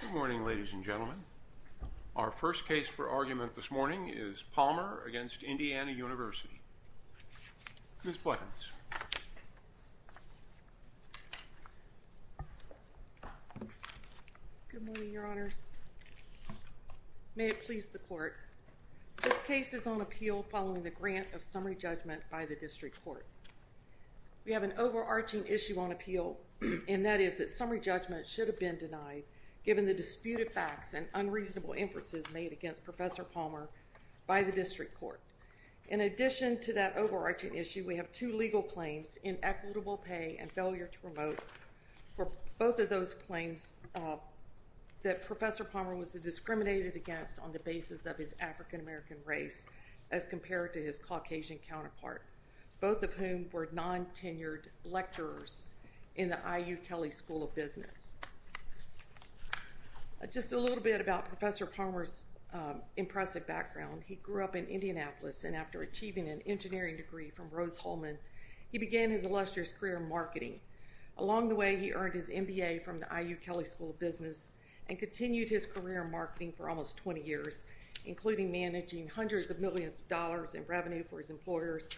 Good morning, ladies and gentlemen. Our first case for argument this morning is Palmer v. Indiana University. Ms. Blegens. Good morning, Your Honors. May it please the Court. This case is on appeal following the grant of summary judgment by the District Court. We have an overarching issue on appeal, and that is that summary judgment should have been denied, given the disputed facts and unreasonable inferences made against Professor Palmer by the District Court. In addition to that overarching issue, we have two legal claims, inequitable pay and failure to promote, for both of those claims that Professor Palmer was discriminated against on the basis of his African American race as compared to his Caucasian counterpart, both of whom were non-tenured lecturers in the IU Kelley School of Business. Just a little bit about Professor Palmer's impressive background. He grew up in Indianapolis, and after achieving an engineering degree from Rose-Hulman, he began his illustrious career in marketing. Along the way, he earned his MBA from the IU Kelley School of Business and continued his career in marketing for almost 20 years, including managing hundreds of millions of dollars in revenue for his employers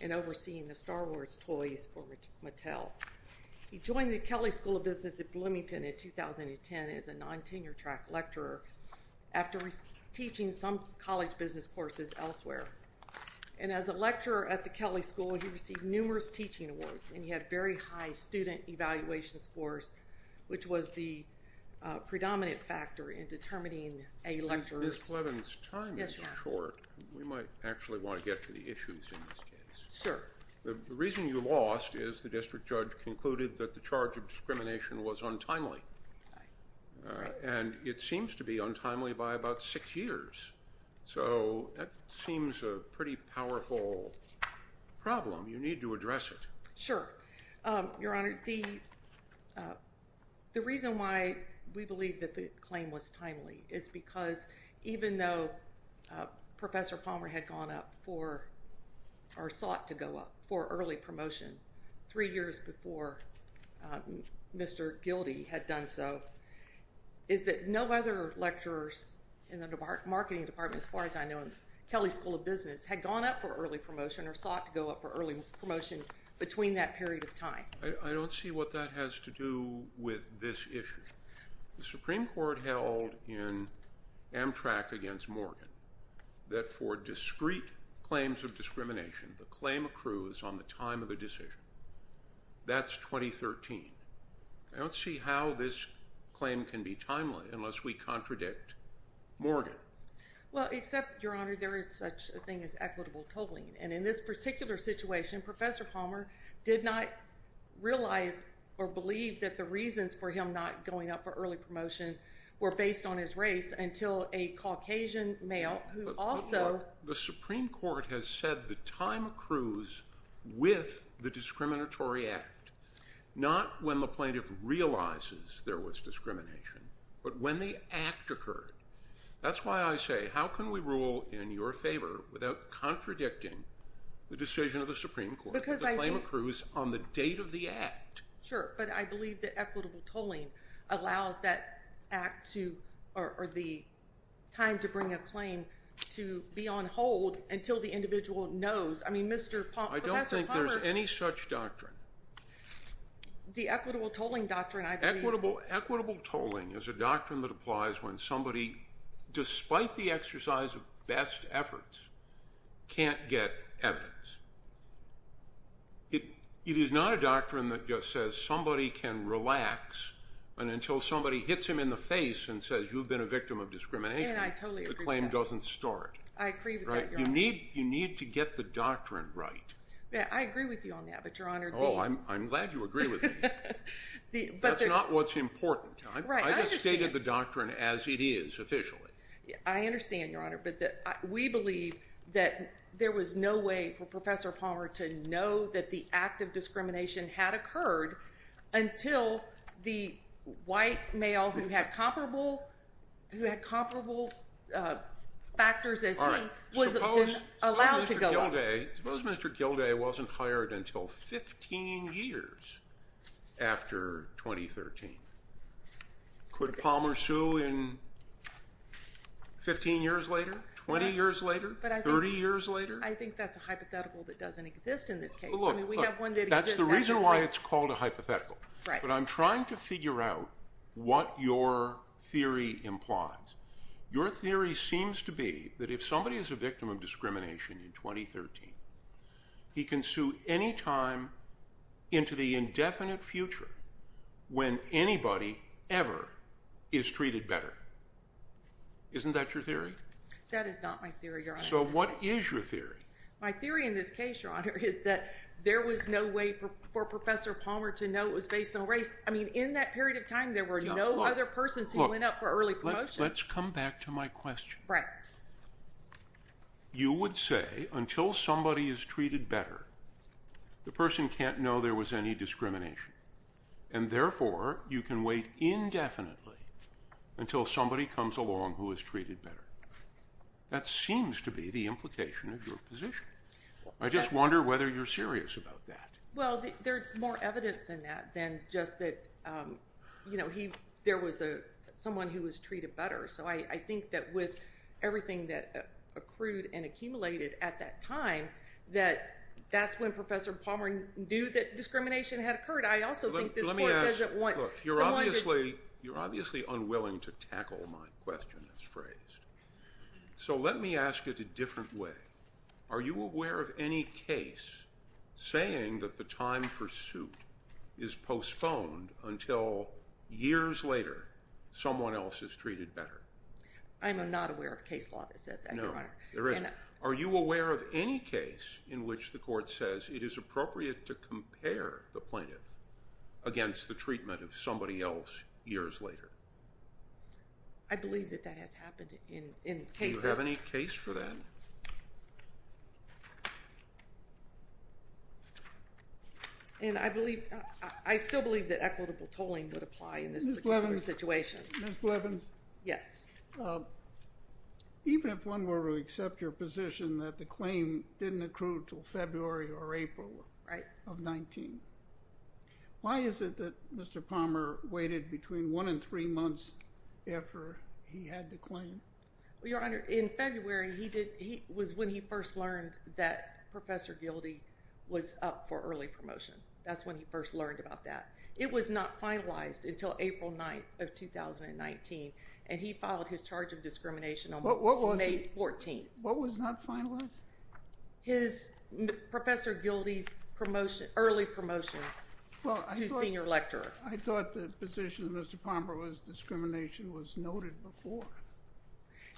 and overseeing the Star Wars toys for Mattel. He joined the Kelley School of Business at Bloomington in 2010 as a non-tenured track lecturer, after teaching some college business courses elsewhere. And as a lecturer at the Kelley School, he received numerous teaching awards, and he had very high student evaluation scores, which was the predominant factor in determining a lecturer. Ms. Clevens, time is short. We might actually want to get to the issues in this case. Sure. The reason you lost is the district judge concluded that the charge of discrimination was untimely, and it seems to be untimely by about six years. So that seems a pretty powerful problem. You need to address it. Sure. Your Honor, the reason why we believe that the claim was timely is because even though Professor Palmer had gone up for or sought to go up for early promotion three years before Mr. Gildee had done so, is that no other lecturers in the marketing department, as far as I know, had gone up for early promotion or sought to go up for early promotion between that period of time? I don't see what that has to do with this issue. The Supreme Court held in Amtrak against Morgan that for discrete claims of discrimination, the claim accrues on the time of the decision. That's 2013. I don't see how this claim can be timely unless we contradict Morgan. Well, except, Your Honor, there is such a thing as equitable totaling. And in this particular situation, Professor Palmer did not realize or believe that the reasons for him not going up for early promotion were based on his race until a Caucasian male who also— But look, the Supreme Court has said the time accrues with the discriminatory act, not when the plaintiff realizes there was discrimination, but when the act occurred. That's why I say, how can we rule in your favor without contradicting the decision of the Supreme Court that the claim accrues on the date of the act? Sure, but I believe that equitable tolling allows that act to—or the time to bring a claim to be on hold until the individual knows. I mean, Mr. Palmer— I don't think there's any such doctrine. The equitable tolling doctrine, I believe— No equitable tolling is a doctrine that applies when somebody, despite the exercise of best efforts, can't get evidence. It is not a doctrine that just says somebody can relax until somebody hits him in the face and says, you've been a victim of discrimination. And I totally agree with that. The claim doesn't start. I agree with that, Your Honor. You need to get the doctrine right. I agree with you on that, but Your Honor— Oh, I'm glad you agree with me. That's not what's important. I just stated the doctrine as it is, officially. I understand, Your Honor, but we believe that there was no way for Professor Palmer to know that the act of discrimination had occurred until the white male who had comparable factors as he was allowed to go out. Okay. Suppose Mr. Gilday wasn't hired until 15 years after 2013. Could Palmer sue in 15 years later, 20 years later, 30 years later? I think that's a hypothetical that doesn't exist in this case. Look, that's the reason why it's called a hypothetical. Right. But I'm trying to figure out what your theory implies. Your theory seems to be that if somebody is a victim of discrimination in 2013, he can sue any time into the indefinite future when anybody ever is treated better. Isn't that your theory? That is not my theory, Your Honor. So what is your theory? My theory in this case, Your Honor, is that there was no way for Professor Palmer to know it was based on race. I mean, in that period of time, there were no other persons who went up for early promotion. Let's come back to my question. Right. You would say until somebody is treated better, the person can't know there was any discrimination, and therefore you can wait indefinitely until somebody comes along who is treated better. That seems to be the implication of your position. I just wonder whether you're serious about that. Well, there's more evidence than that, than just that, you know, there was someone who was treated better. So I think that with everything that accrued and accumulated at that time, that that's when Professor Palmer knew that discrimination had occurred. I also think this court doesn't want someone to— Look, you're obviously unwilling to tackle my question, as phrased. So let me ask it a different way. Are you aware of any case saying that the time for suit is postponed until years later someone else is treated better? I'm not aware of a case law that says that, Your Honor. No, there isn't. Are you aware of any case in which the court says it is appropriate to compare the plaintiff against the treatment of somebody else years later? I believe that that has happened in cases. Do you have any case for that? And I still believe that equitable tolling would apply in this particular situation. Ms. Blevins? Yes. Even if one were to accept your position that the claim didn't accrue until February or April of 19, why is it that Mr. Palmer waited between one and three months after he had the claim? Well, Your Honor, in February he did—was when he first learned that Professor Gildee was up for early promotion. That's when he first learned about that. It was not finalized until April 9th of 2019, and he filed his charge of discrimination on May 14th. What was not finalized? His—Professor Gildee's promotion—early promotion to senior lecturer. I thought the position of Mr. Palmer was discrimination was noted before.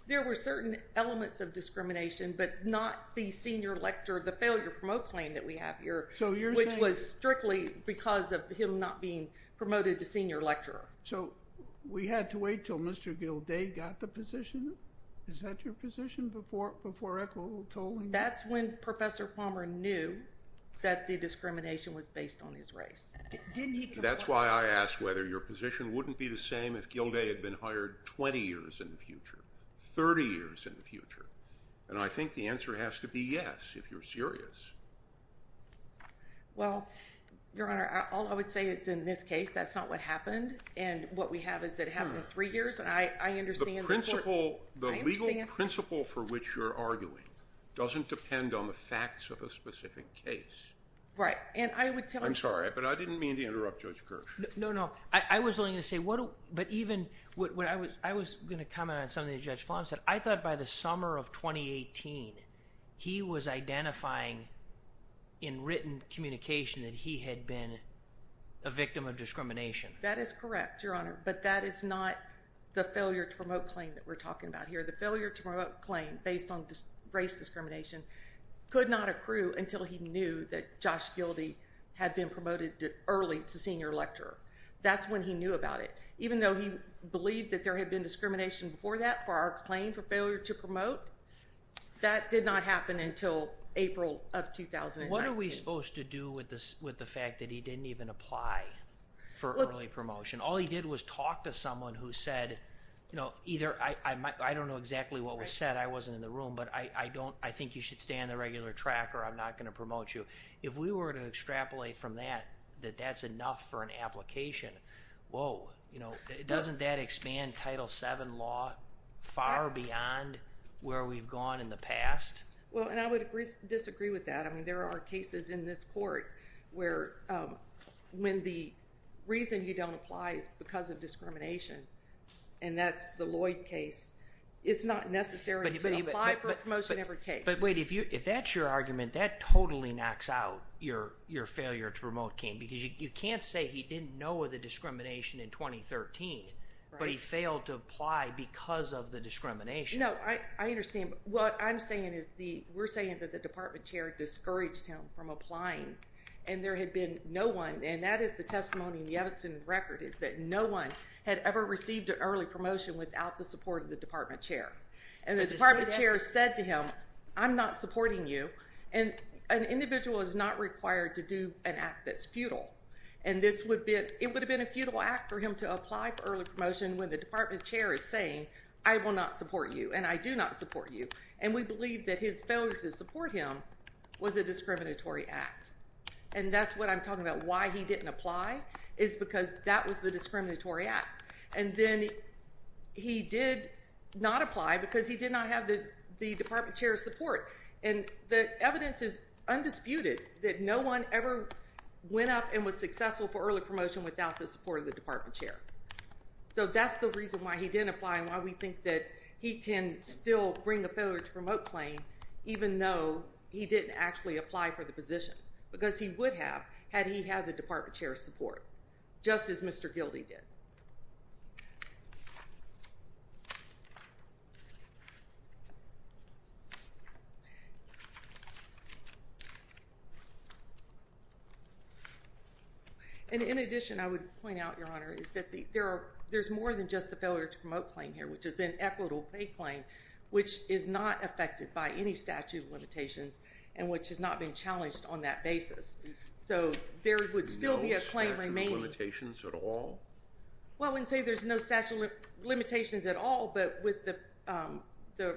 There were certain elements of discrimination, but not the senior lecturer—the failure to promote claim that we have here. So you're saying— Which was strictly because of him not being promoted to senior lecturer. So we had to wait until Mr. Gildee got the position? Is that your position before equitable tolling? That's when Professor Palmer knew that the discrimination was based on his race. Didn't he— That's why I asked whether your position wouldn't be the same if Gildee had been hired 20 years in the future, 30 years in the future. And I think the answer has to be yes if you're serious. Well, Your Honor, all I would say is in this case that's not what happened, and what we have is that it happened in three years, and I understand— The principle— I understand— The legal principle for which you're arguing doesn't depend on the facts of a specific case. Right, and I would tell— I'm sorry, but I didn't mean to interrupt Judge Kirsch. No, no. I was only going to say what—but even—I was going to comment on something that Judge Flom said. I thought by the summer of 2018 he was identifying in written communication that he had been a victim of discrimination. That is correct, Your Honor, but that is not the failure to promote claim that we're talking about here. The failure to promote claim based on race discrimination could not accrue until he knew that Josh Gildee had been promoted early to senior lecturer. That's when he knew about it. Even though he believed that there had been discrimination before that for our claim for failure to promote, that did not happen until April of 2019. What are we supposed to do with the fact that he didn't even apply for early promotion? All he did was talk to someone who said, you know, either—I don't know exactly what was said. I wasn't in the room, but I don't—I think you should stay on the regular track or I'm not going to promote you. If we were to extrapolate from that that that's enough for an application, whoa, you know, doesn't that expand Title VII law far beyond where we've gone in the past? Well, and I would disagree with that. I mean there are cases in this court where when the reason you don't apply is because of discrimination, and that's the Lloyd case. It's not necessary to apply for promotion in every case. But wait, if that's your argument, that totally knocks out your failure to promote claim because you can't say he didn't know of the discrimination in 2013, but he failed to apply because of the discrimination. No, I understand. What I'm saying is the—we're saying that the department chair discouraged him from applying, and there had been no one, and that is the testimony in the Evanson record, is that no one had ever received an early promotion without the support of the department chair. And the department chair said to him, I'm not supporting you. And an individual is not required to do an act that's futile. And this would be—it would have been a futile act for him to apply for early promotion when the department chair is saying, I will not support you, and I do not support you. And we believe that his failure to support him was a discriminatory act. And that's what I'm talking about. Why he didn't apply is because that was the discriminatory act. And then he did not apply because he did not have the department chair's support. And the evidence is undisputed that no one ever went up and was successful for early promotion without the support of the department chair. So that's the reason why he didn't apply and why we think that he can still bring a failure to promote claim even though he didn't actually apply for the position because he would have had he had the department chair's support, just as Mr. Gildee did. And in addition, I would point out, Your Honor, is that there's more than just the failure to promote claim here, which is then equitable pay claim, which is not affected by any statute of limitations and which has not been challenged on that basis. So there would still be a claim remaining. No statute of limitations at all? Well, I wouldn't say there's no statute of limitations at all, but with the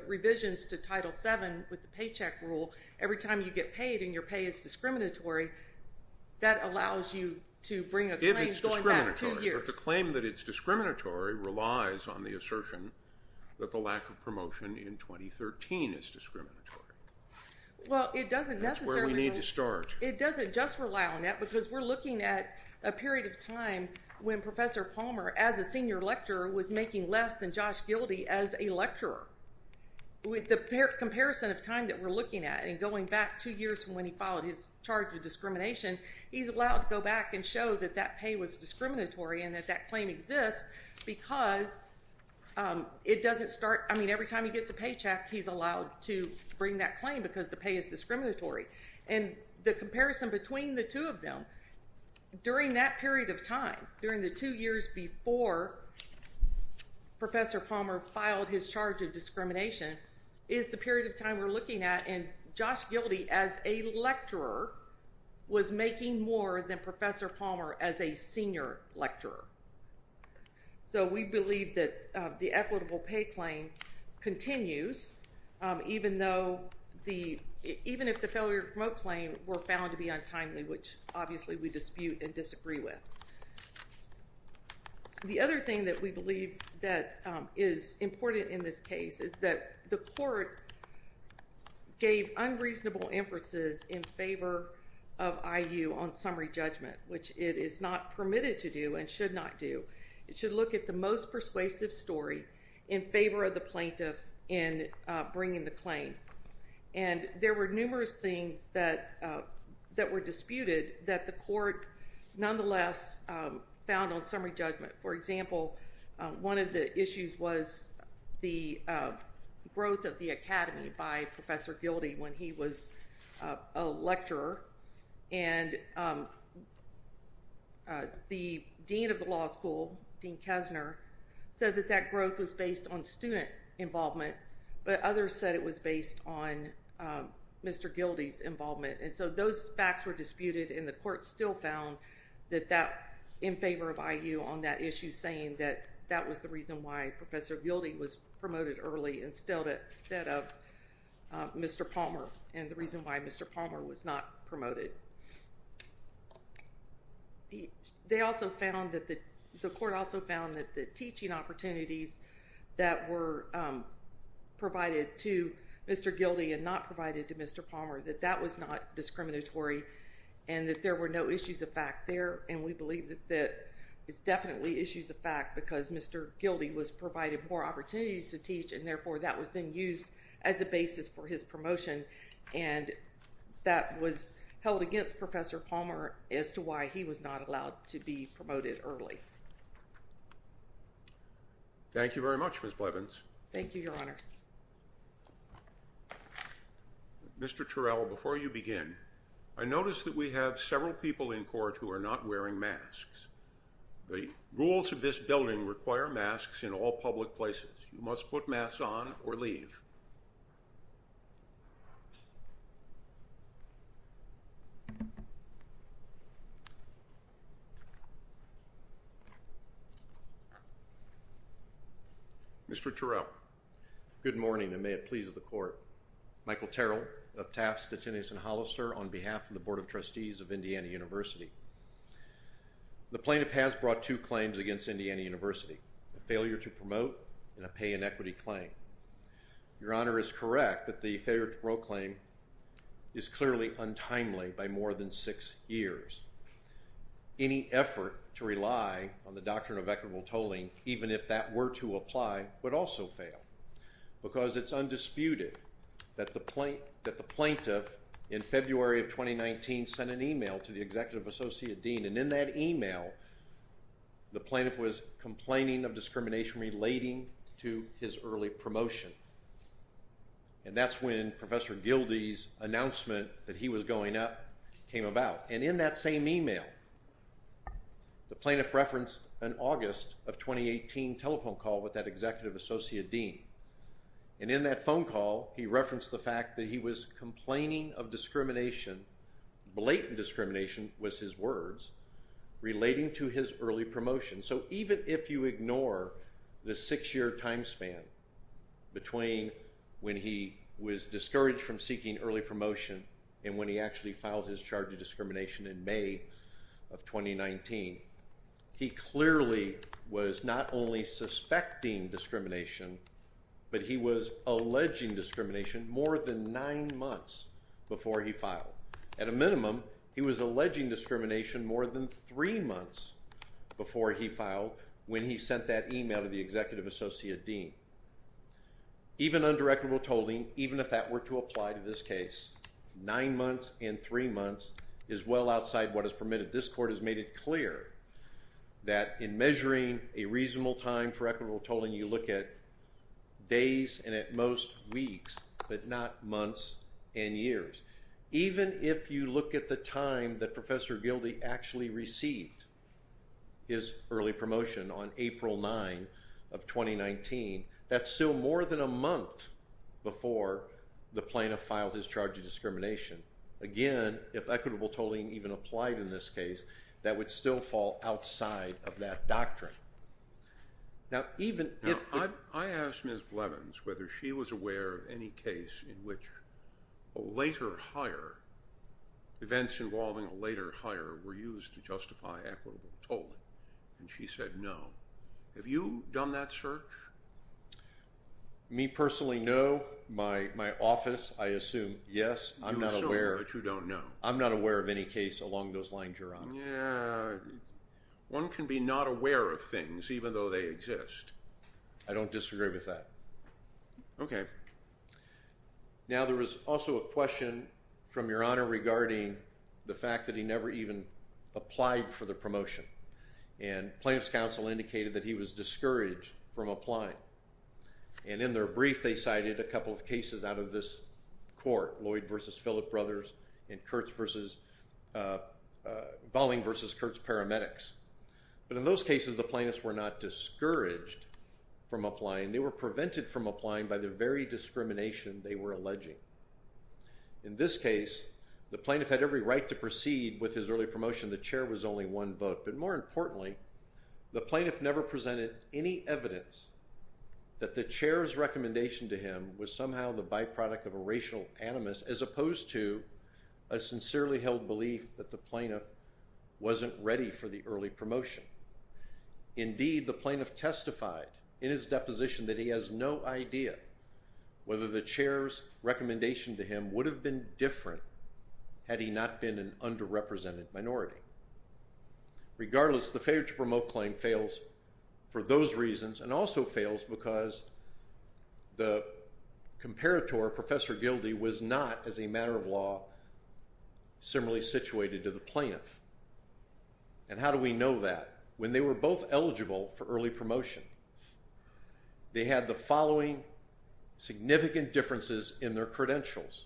revisions to Title VII with the paycheck rule, every time you get paid and your pay is discriminatory, that allows you to bring a claim going back two years. But the claim that it's discriminatory relies on the assertion that the lack of promotion in 2013 is discriminatory. Well, it doesn't necessarily – That's where we need to start. It doesn't just rely on that because we're looking at a period of time when Professor Palmer, as a senior lecturer, was making less than Josh Gildee as a lecturer. With the comparison of time that we're looking at and going back two years from when he filed his charge of discrimination, he's allowed to go back and show that that pay was discriminatory and that that claim exists because it doesn't start – I mean, every time he gets a paycheck, he's allowed to bring that claim because the pay is discriminatory. And the comparison between the two of them during that period of time, during the two years before Professor Palmer filed his charge of discrimination, is the period of time we're looking at and Josh Gildee as a lecturer was making more than Professor Palmer as a senior lecturer. So we believe that the equitable pay claim continues even though the – even if the failure to promote claim were found to be untimely, which obviously we dispute and disagree with. The other thing that we believe that is important in this case is that the court gave unreasonable inferences in favor of IU on summary judgment, which it is not permitted to do and should not do. It should look at the most persuasive story in favor of the plaintiff in bringing the claim. And there were numerous things that were disputed that the court nonetheless found on summary judgment. For example, one of the issues was the growth of the academy by Professor Gildee when he was a lecturer. And the dean of the law school, Dean Kessner, said that that growth was based on student involvement, but others said it was based on Mr. Gildee's involvement. And so those facts were disputed and the court still found that that in favor of IU on that issue saying that that was the reason why Professor Gildee was promoted early instead of Mr. Palmer and the reason why Mr. Palmer was not promoted. They also found that the court also found that the teaching opportunities that were provided to Mr. Gildee and not provided to Mr. Palmer, that that was not discriminatory and that there were no issues of fact there. And we believe that that is definitely issues of fact because Mr. Gildee was provided more opportunities to teach, and therefore that was then used as a basis for his promotion. And that was held against Professor Palmer as to why he was not allowed to be promoted early. Thank you very much, Ms. Blevins. Thank you, Your Honor. Mr. Terrell, before you begin, I noticed that we have several people in court who are not wearing masks. The rules of this building require masks in all public places. You must put masks on or leave. Mr. Terrell. Good morning, and may it please the court. Michael Terrell, Uptaft's detainees in Hollister on behalf of the Board of Trustees of Indiana University. The plaintiff has brought two claims against Indiana University, a failure to promote and a pay inequity claim. Your Honor is correct that the failure to promote claim is clearly untimely by more than six years. Any effort to rely on the doctrine of equitable tolling, even if that were to apply, would also fail because it's undisputed that the plaintiff in February of 2019 sent an email to the executive associate dean and in that email, the plaintiff was complaining of discrimination relating to his early promotion. And that's when Professor Gildee's announcement that he was going up came about. And in that same email, the plaintiff referenced an August of 2018 telephone call with that executive associate dean. And in that phone call, he referenced the fact that he was complaining of discrimination, blatant discrimination was his words, relating to his early promotion. So even if you ignore the six-year time span between when he was discouraged from seeking early promotion and when he actually filed his charge of discrimination in May of 2019, he clearly was not only suspecting discrimination, but he was alleging discrimination more than nine months before he filed. At a minimum, he was alleging discrimination more than three months before he filed when he sent that email to the executive associate dean. Even under equitable tolling, even if that were to apply to this case, nine months and three months is well outside what is permitted. This court has made it clear that in measuring a reasonable time for equitable tolling, you look at days and at most weeks, but not months and years. Even if you look at the time that Professor Gildee actually received his early promotion on April 9 of 2019, that's still more than a month before the plaintiff filed his charge of discrimination. Again, if equitable tolling even applied in this case, that would still fall outside of that doctrine. I asked Ms. Blevins whether she was aware of any case in which a later hire, events involving a later hire were used to justify equitable tolling. And she said no. Have you done that search? Me personally, no. My office, I assume, yes. You assume, but you don't know. I'm not aware of any case along those lines, Your Honor. Yeah. One can be not aware of things even though they exist. I don't disagree with that. Okay. Now, there was also a question from Your Honor regarding the fact that he never even applied for the promotion. And plaintiff's counsel indicated that he was discouraged from applying. And in their brief, they cited a couple of cases out of this court, Lloyd v. Phillip Brothers and Bowling v. Kurtz Paramedics. But in those cases, the plaintiffs were not discouraged from applying. They were prevented from applying by the very discrimination they were alleging. In this case, the plaintiff had every right to proceed with his early promotion. The chair was only one vote. But more importantly, the plaintiff never presented any evidence that the chair's recommendation to him was somehow the byproduct of a racial animus as opposed to a sincerely held belief that the plaintiff wasn't ready for the early promotion. Indeed, the plaintiff testified in his deposition that he has no idea whether the chair's recommendation to him would have been different had he not been an underrepresented minority. Regardless, the failure to promote claim fails for those reasons and also fails because the comparator, Professor Gildee, was not, as a matter of law, similarly situated to the plaintiff. And how do we know that? When they were both eligible for early promotion, they had the following significant differences in their credentials.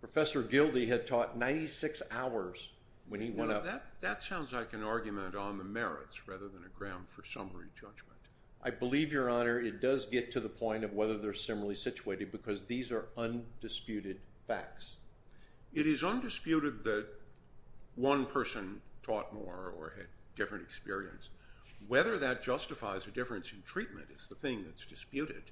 Professor Gildee had taught 96 hours when he went up. Now, that sounds like an argument on the merits rather than a ground for summary judgment. I believe, Your Honor, it does get to the point of whether they're similarly situated because these are undisputed facts. It is undisputed that one person taught more or had different experience. Whether that justifies a difference in treatment is the thing that's disputed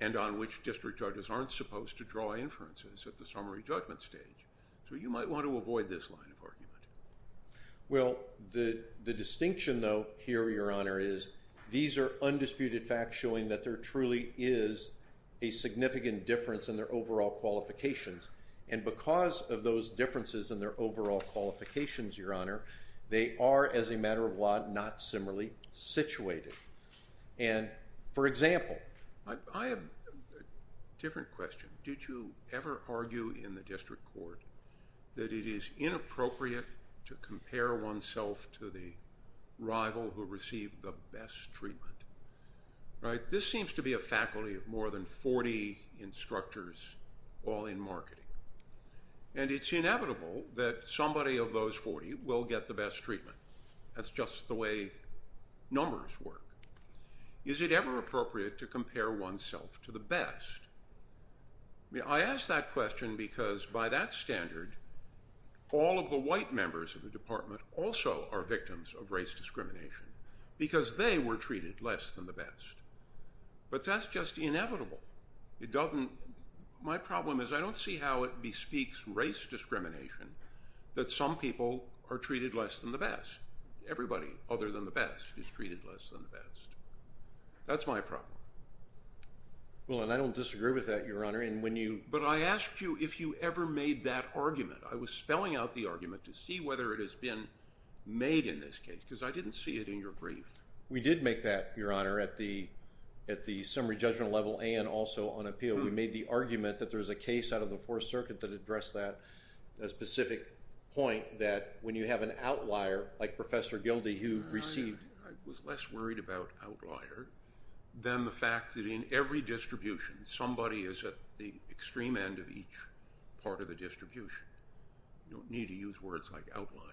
and on which district judges aren't supposed to draw inferences at the summary judgment stage. So you might want to avoid this line of argument. Well, the distinction, though, here, Your Honor, is these are undisputed facts showing that there truly is a significant difference in their overall qualifications. And because of those differences in their overall qualifications, Your Honor, they are, as a matter of law, not similarly situated. And, for example— I have a different question. Did you ever argue in the district court that it is inappropriate to compare oneself to the rival who received the best treatment? This seems to be a faculty of more than 40 instructors, all in marketing. And it's inevitable that somebody of those 40 will get the best treatment. That's just the way numbers work. Is it ever appropriate to compare oneself to the best? I ask that question because, by that standard, all of the white members of the department also are victims of race discrimination because they were treated less than the best. But that's just inevitable. My problem is I don't see how it bespeaks race discrimination that some people are treated less than the best. Everybody, other than the best, is treated less than the best. That's my problem. Well, and I don't disagree with that, Your Honor, and when you— But I asked you if you ever made that argument. I was spelling out the argument to see whether it has been made in this case because I didn't see it in your brief. We did make that, Your Honor, at the summary judgment level and also on appeal. We made the argument that there was a case out of the Fourth Circuit that addressed that specific point that when you have an outlier, like Professor Gildee, who received— The fact that in every distribution, somebody is at the extreme end of each part of the distribution. You don't need to use words like outlier.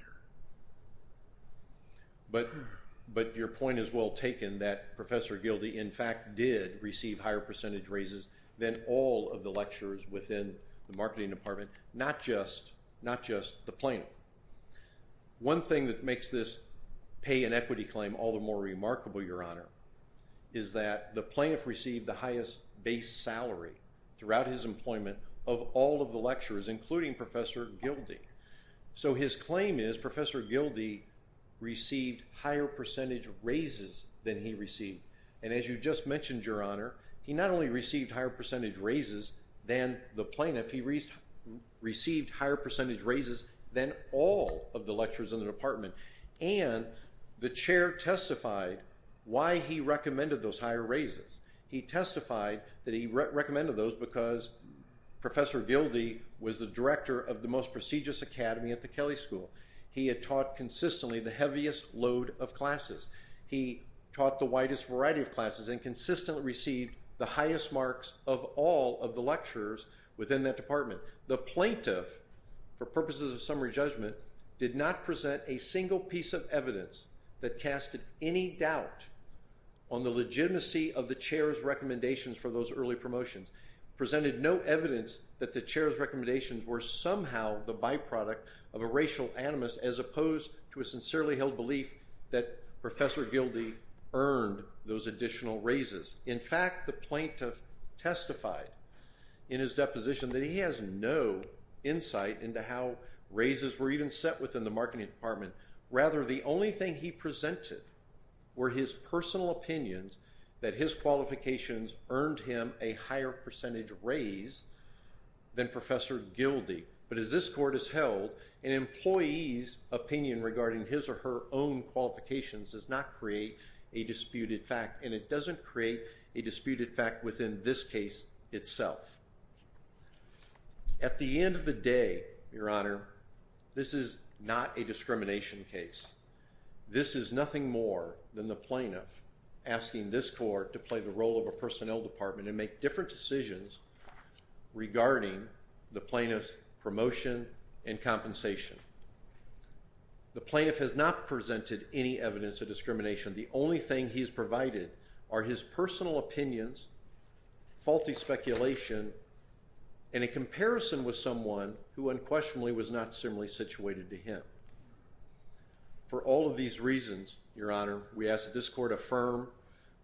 But your point is well taken that Professor Gildee, in fact, did receive higher percentage raises than all of the lecturers within the marketing department, not just the plaintiff. One thing that makes this pay and equity claim all the more remarkable, Your Honor, is that the plaintiff received the highest base salary throughout his employment of all of the lecturers, including Professor Gildee. So his claim is Professor Gildee received higher percentage raises than he received. And as you just mentioned, Your Honor, he not only received higher percentage raises than the plaintiff, he received higher percentage raises than all of the lecturers in the department. And the chair testified why he recommended those higher raises. He testified that he recommended those because Professor Gildee was the director of the most prestigious academy at the Kelley School. He had taught consistently the heaviest load of classes. He taught the widest variety of classes and consistently received the highest marks of all of the lecturers within that department. The plaintiff, for purposes of summary judgment, did not present a single piece of evidence that casted any doubt on the legitimacy of the chair's recommendations for those early promotions. Presented no evidence that the chair's recommendations were somehow the byproduct of a racial animus as opposed to a sincerely held belief that Professor Gildee earned those additional raises. In fact, the plaintiff testified in his deposition that he has no insight into how raises were even set within the marketing department. Rather, the only thing he presented were his personal opinions that his qualifications earned him a higher percentage raise than Professor Gildee. But as this court has held, an employee's opinion regarding his or her own qualifications does not create a disputed fact, and it doesn't create a disputed fact within this case itself. At the end of the day, Your Honor, this is not a discrimination case. This is nothing more than the plaintiff asking this court to play the role of a personnel department and make different decisions regarding the plaintiff's promotion and compensation. The plaintiff has not presented any evidence of discrimination. The only thing he has provided are his personal opinions, faulty speculation, and a comparison with someone who unquestionably was not similarly situated to him. For all of these reasons, Your Honor, we ask that this court affirm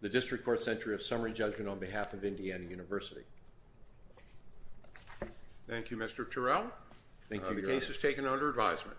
the district court's entry of summary judgment on behalf of Indiana University. Thank you, Mr. Turrell. Thank you, Your Honor. The case is taken under advisement.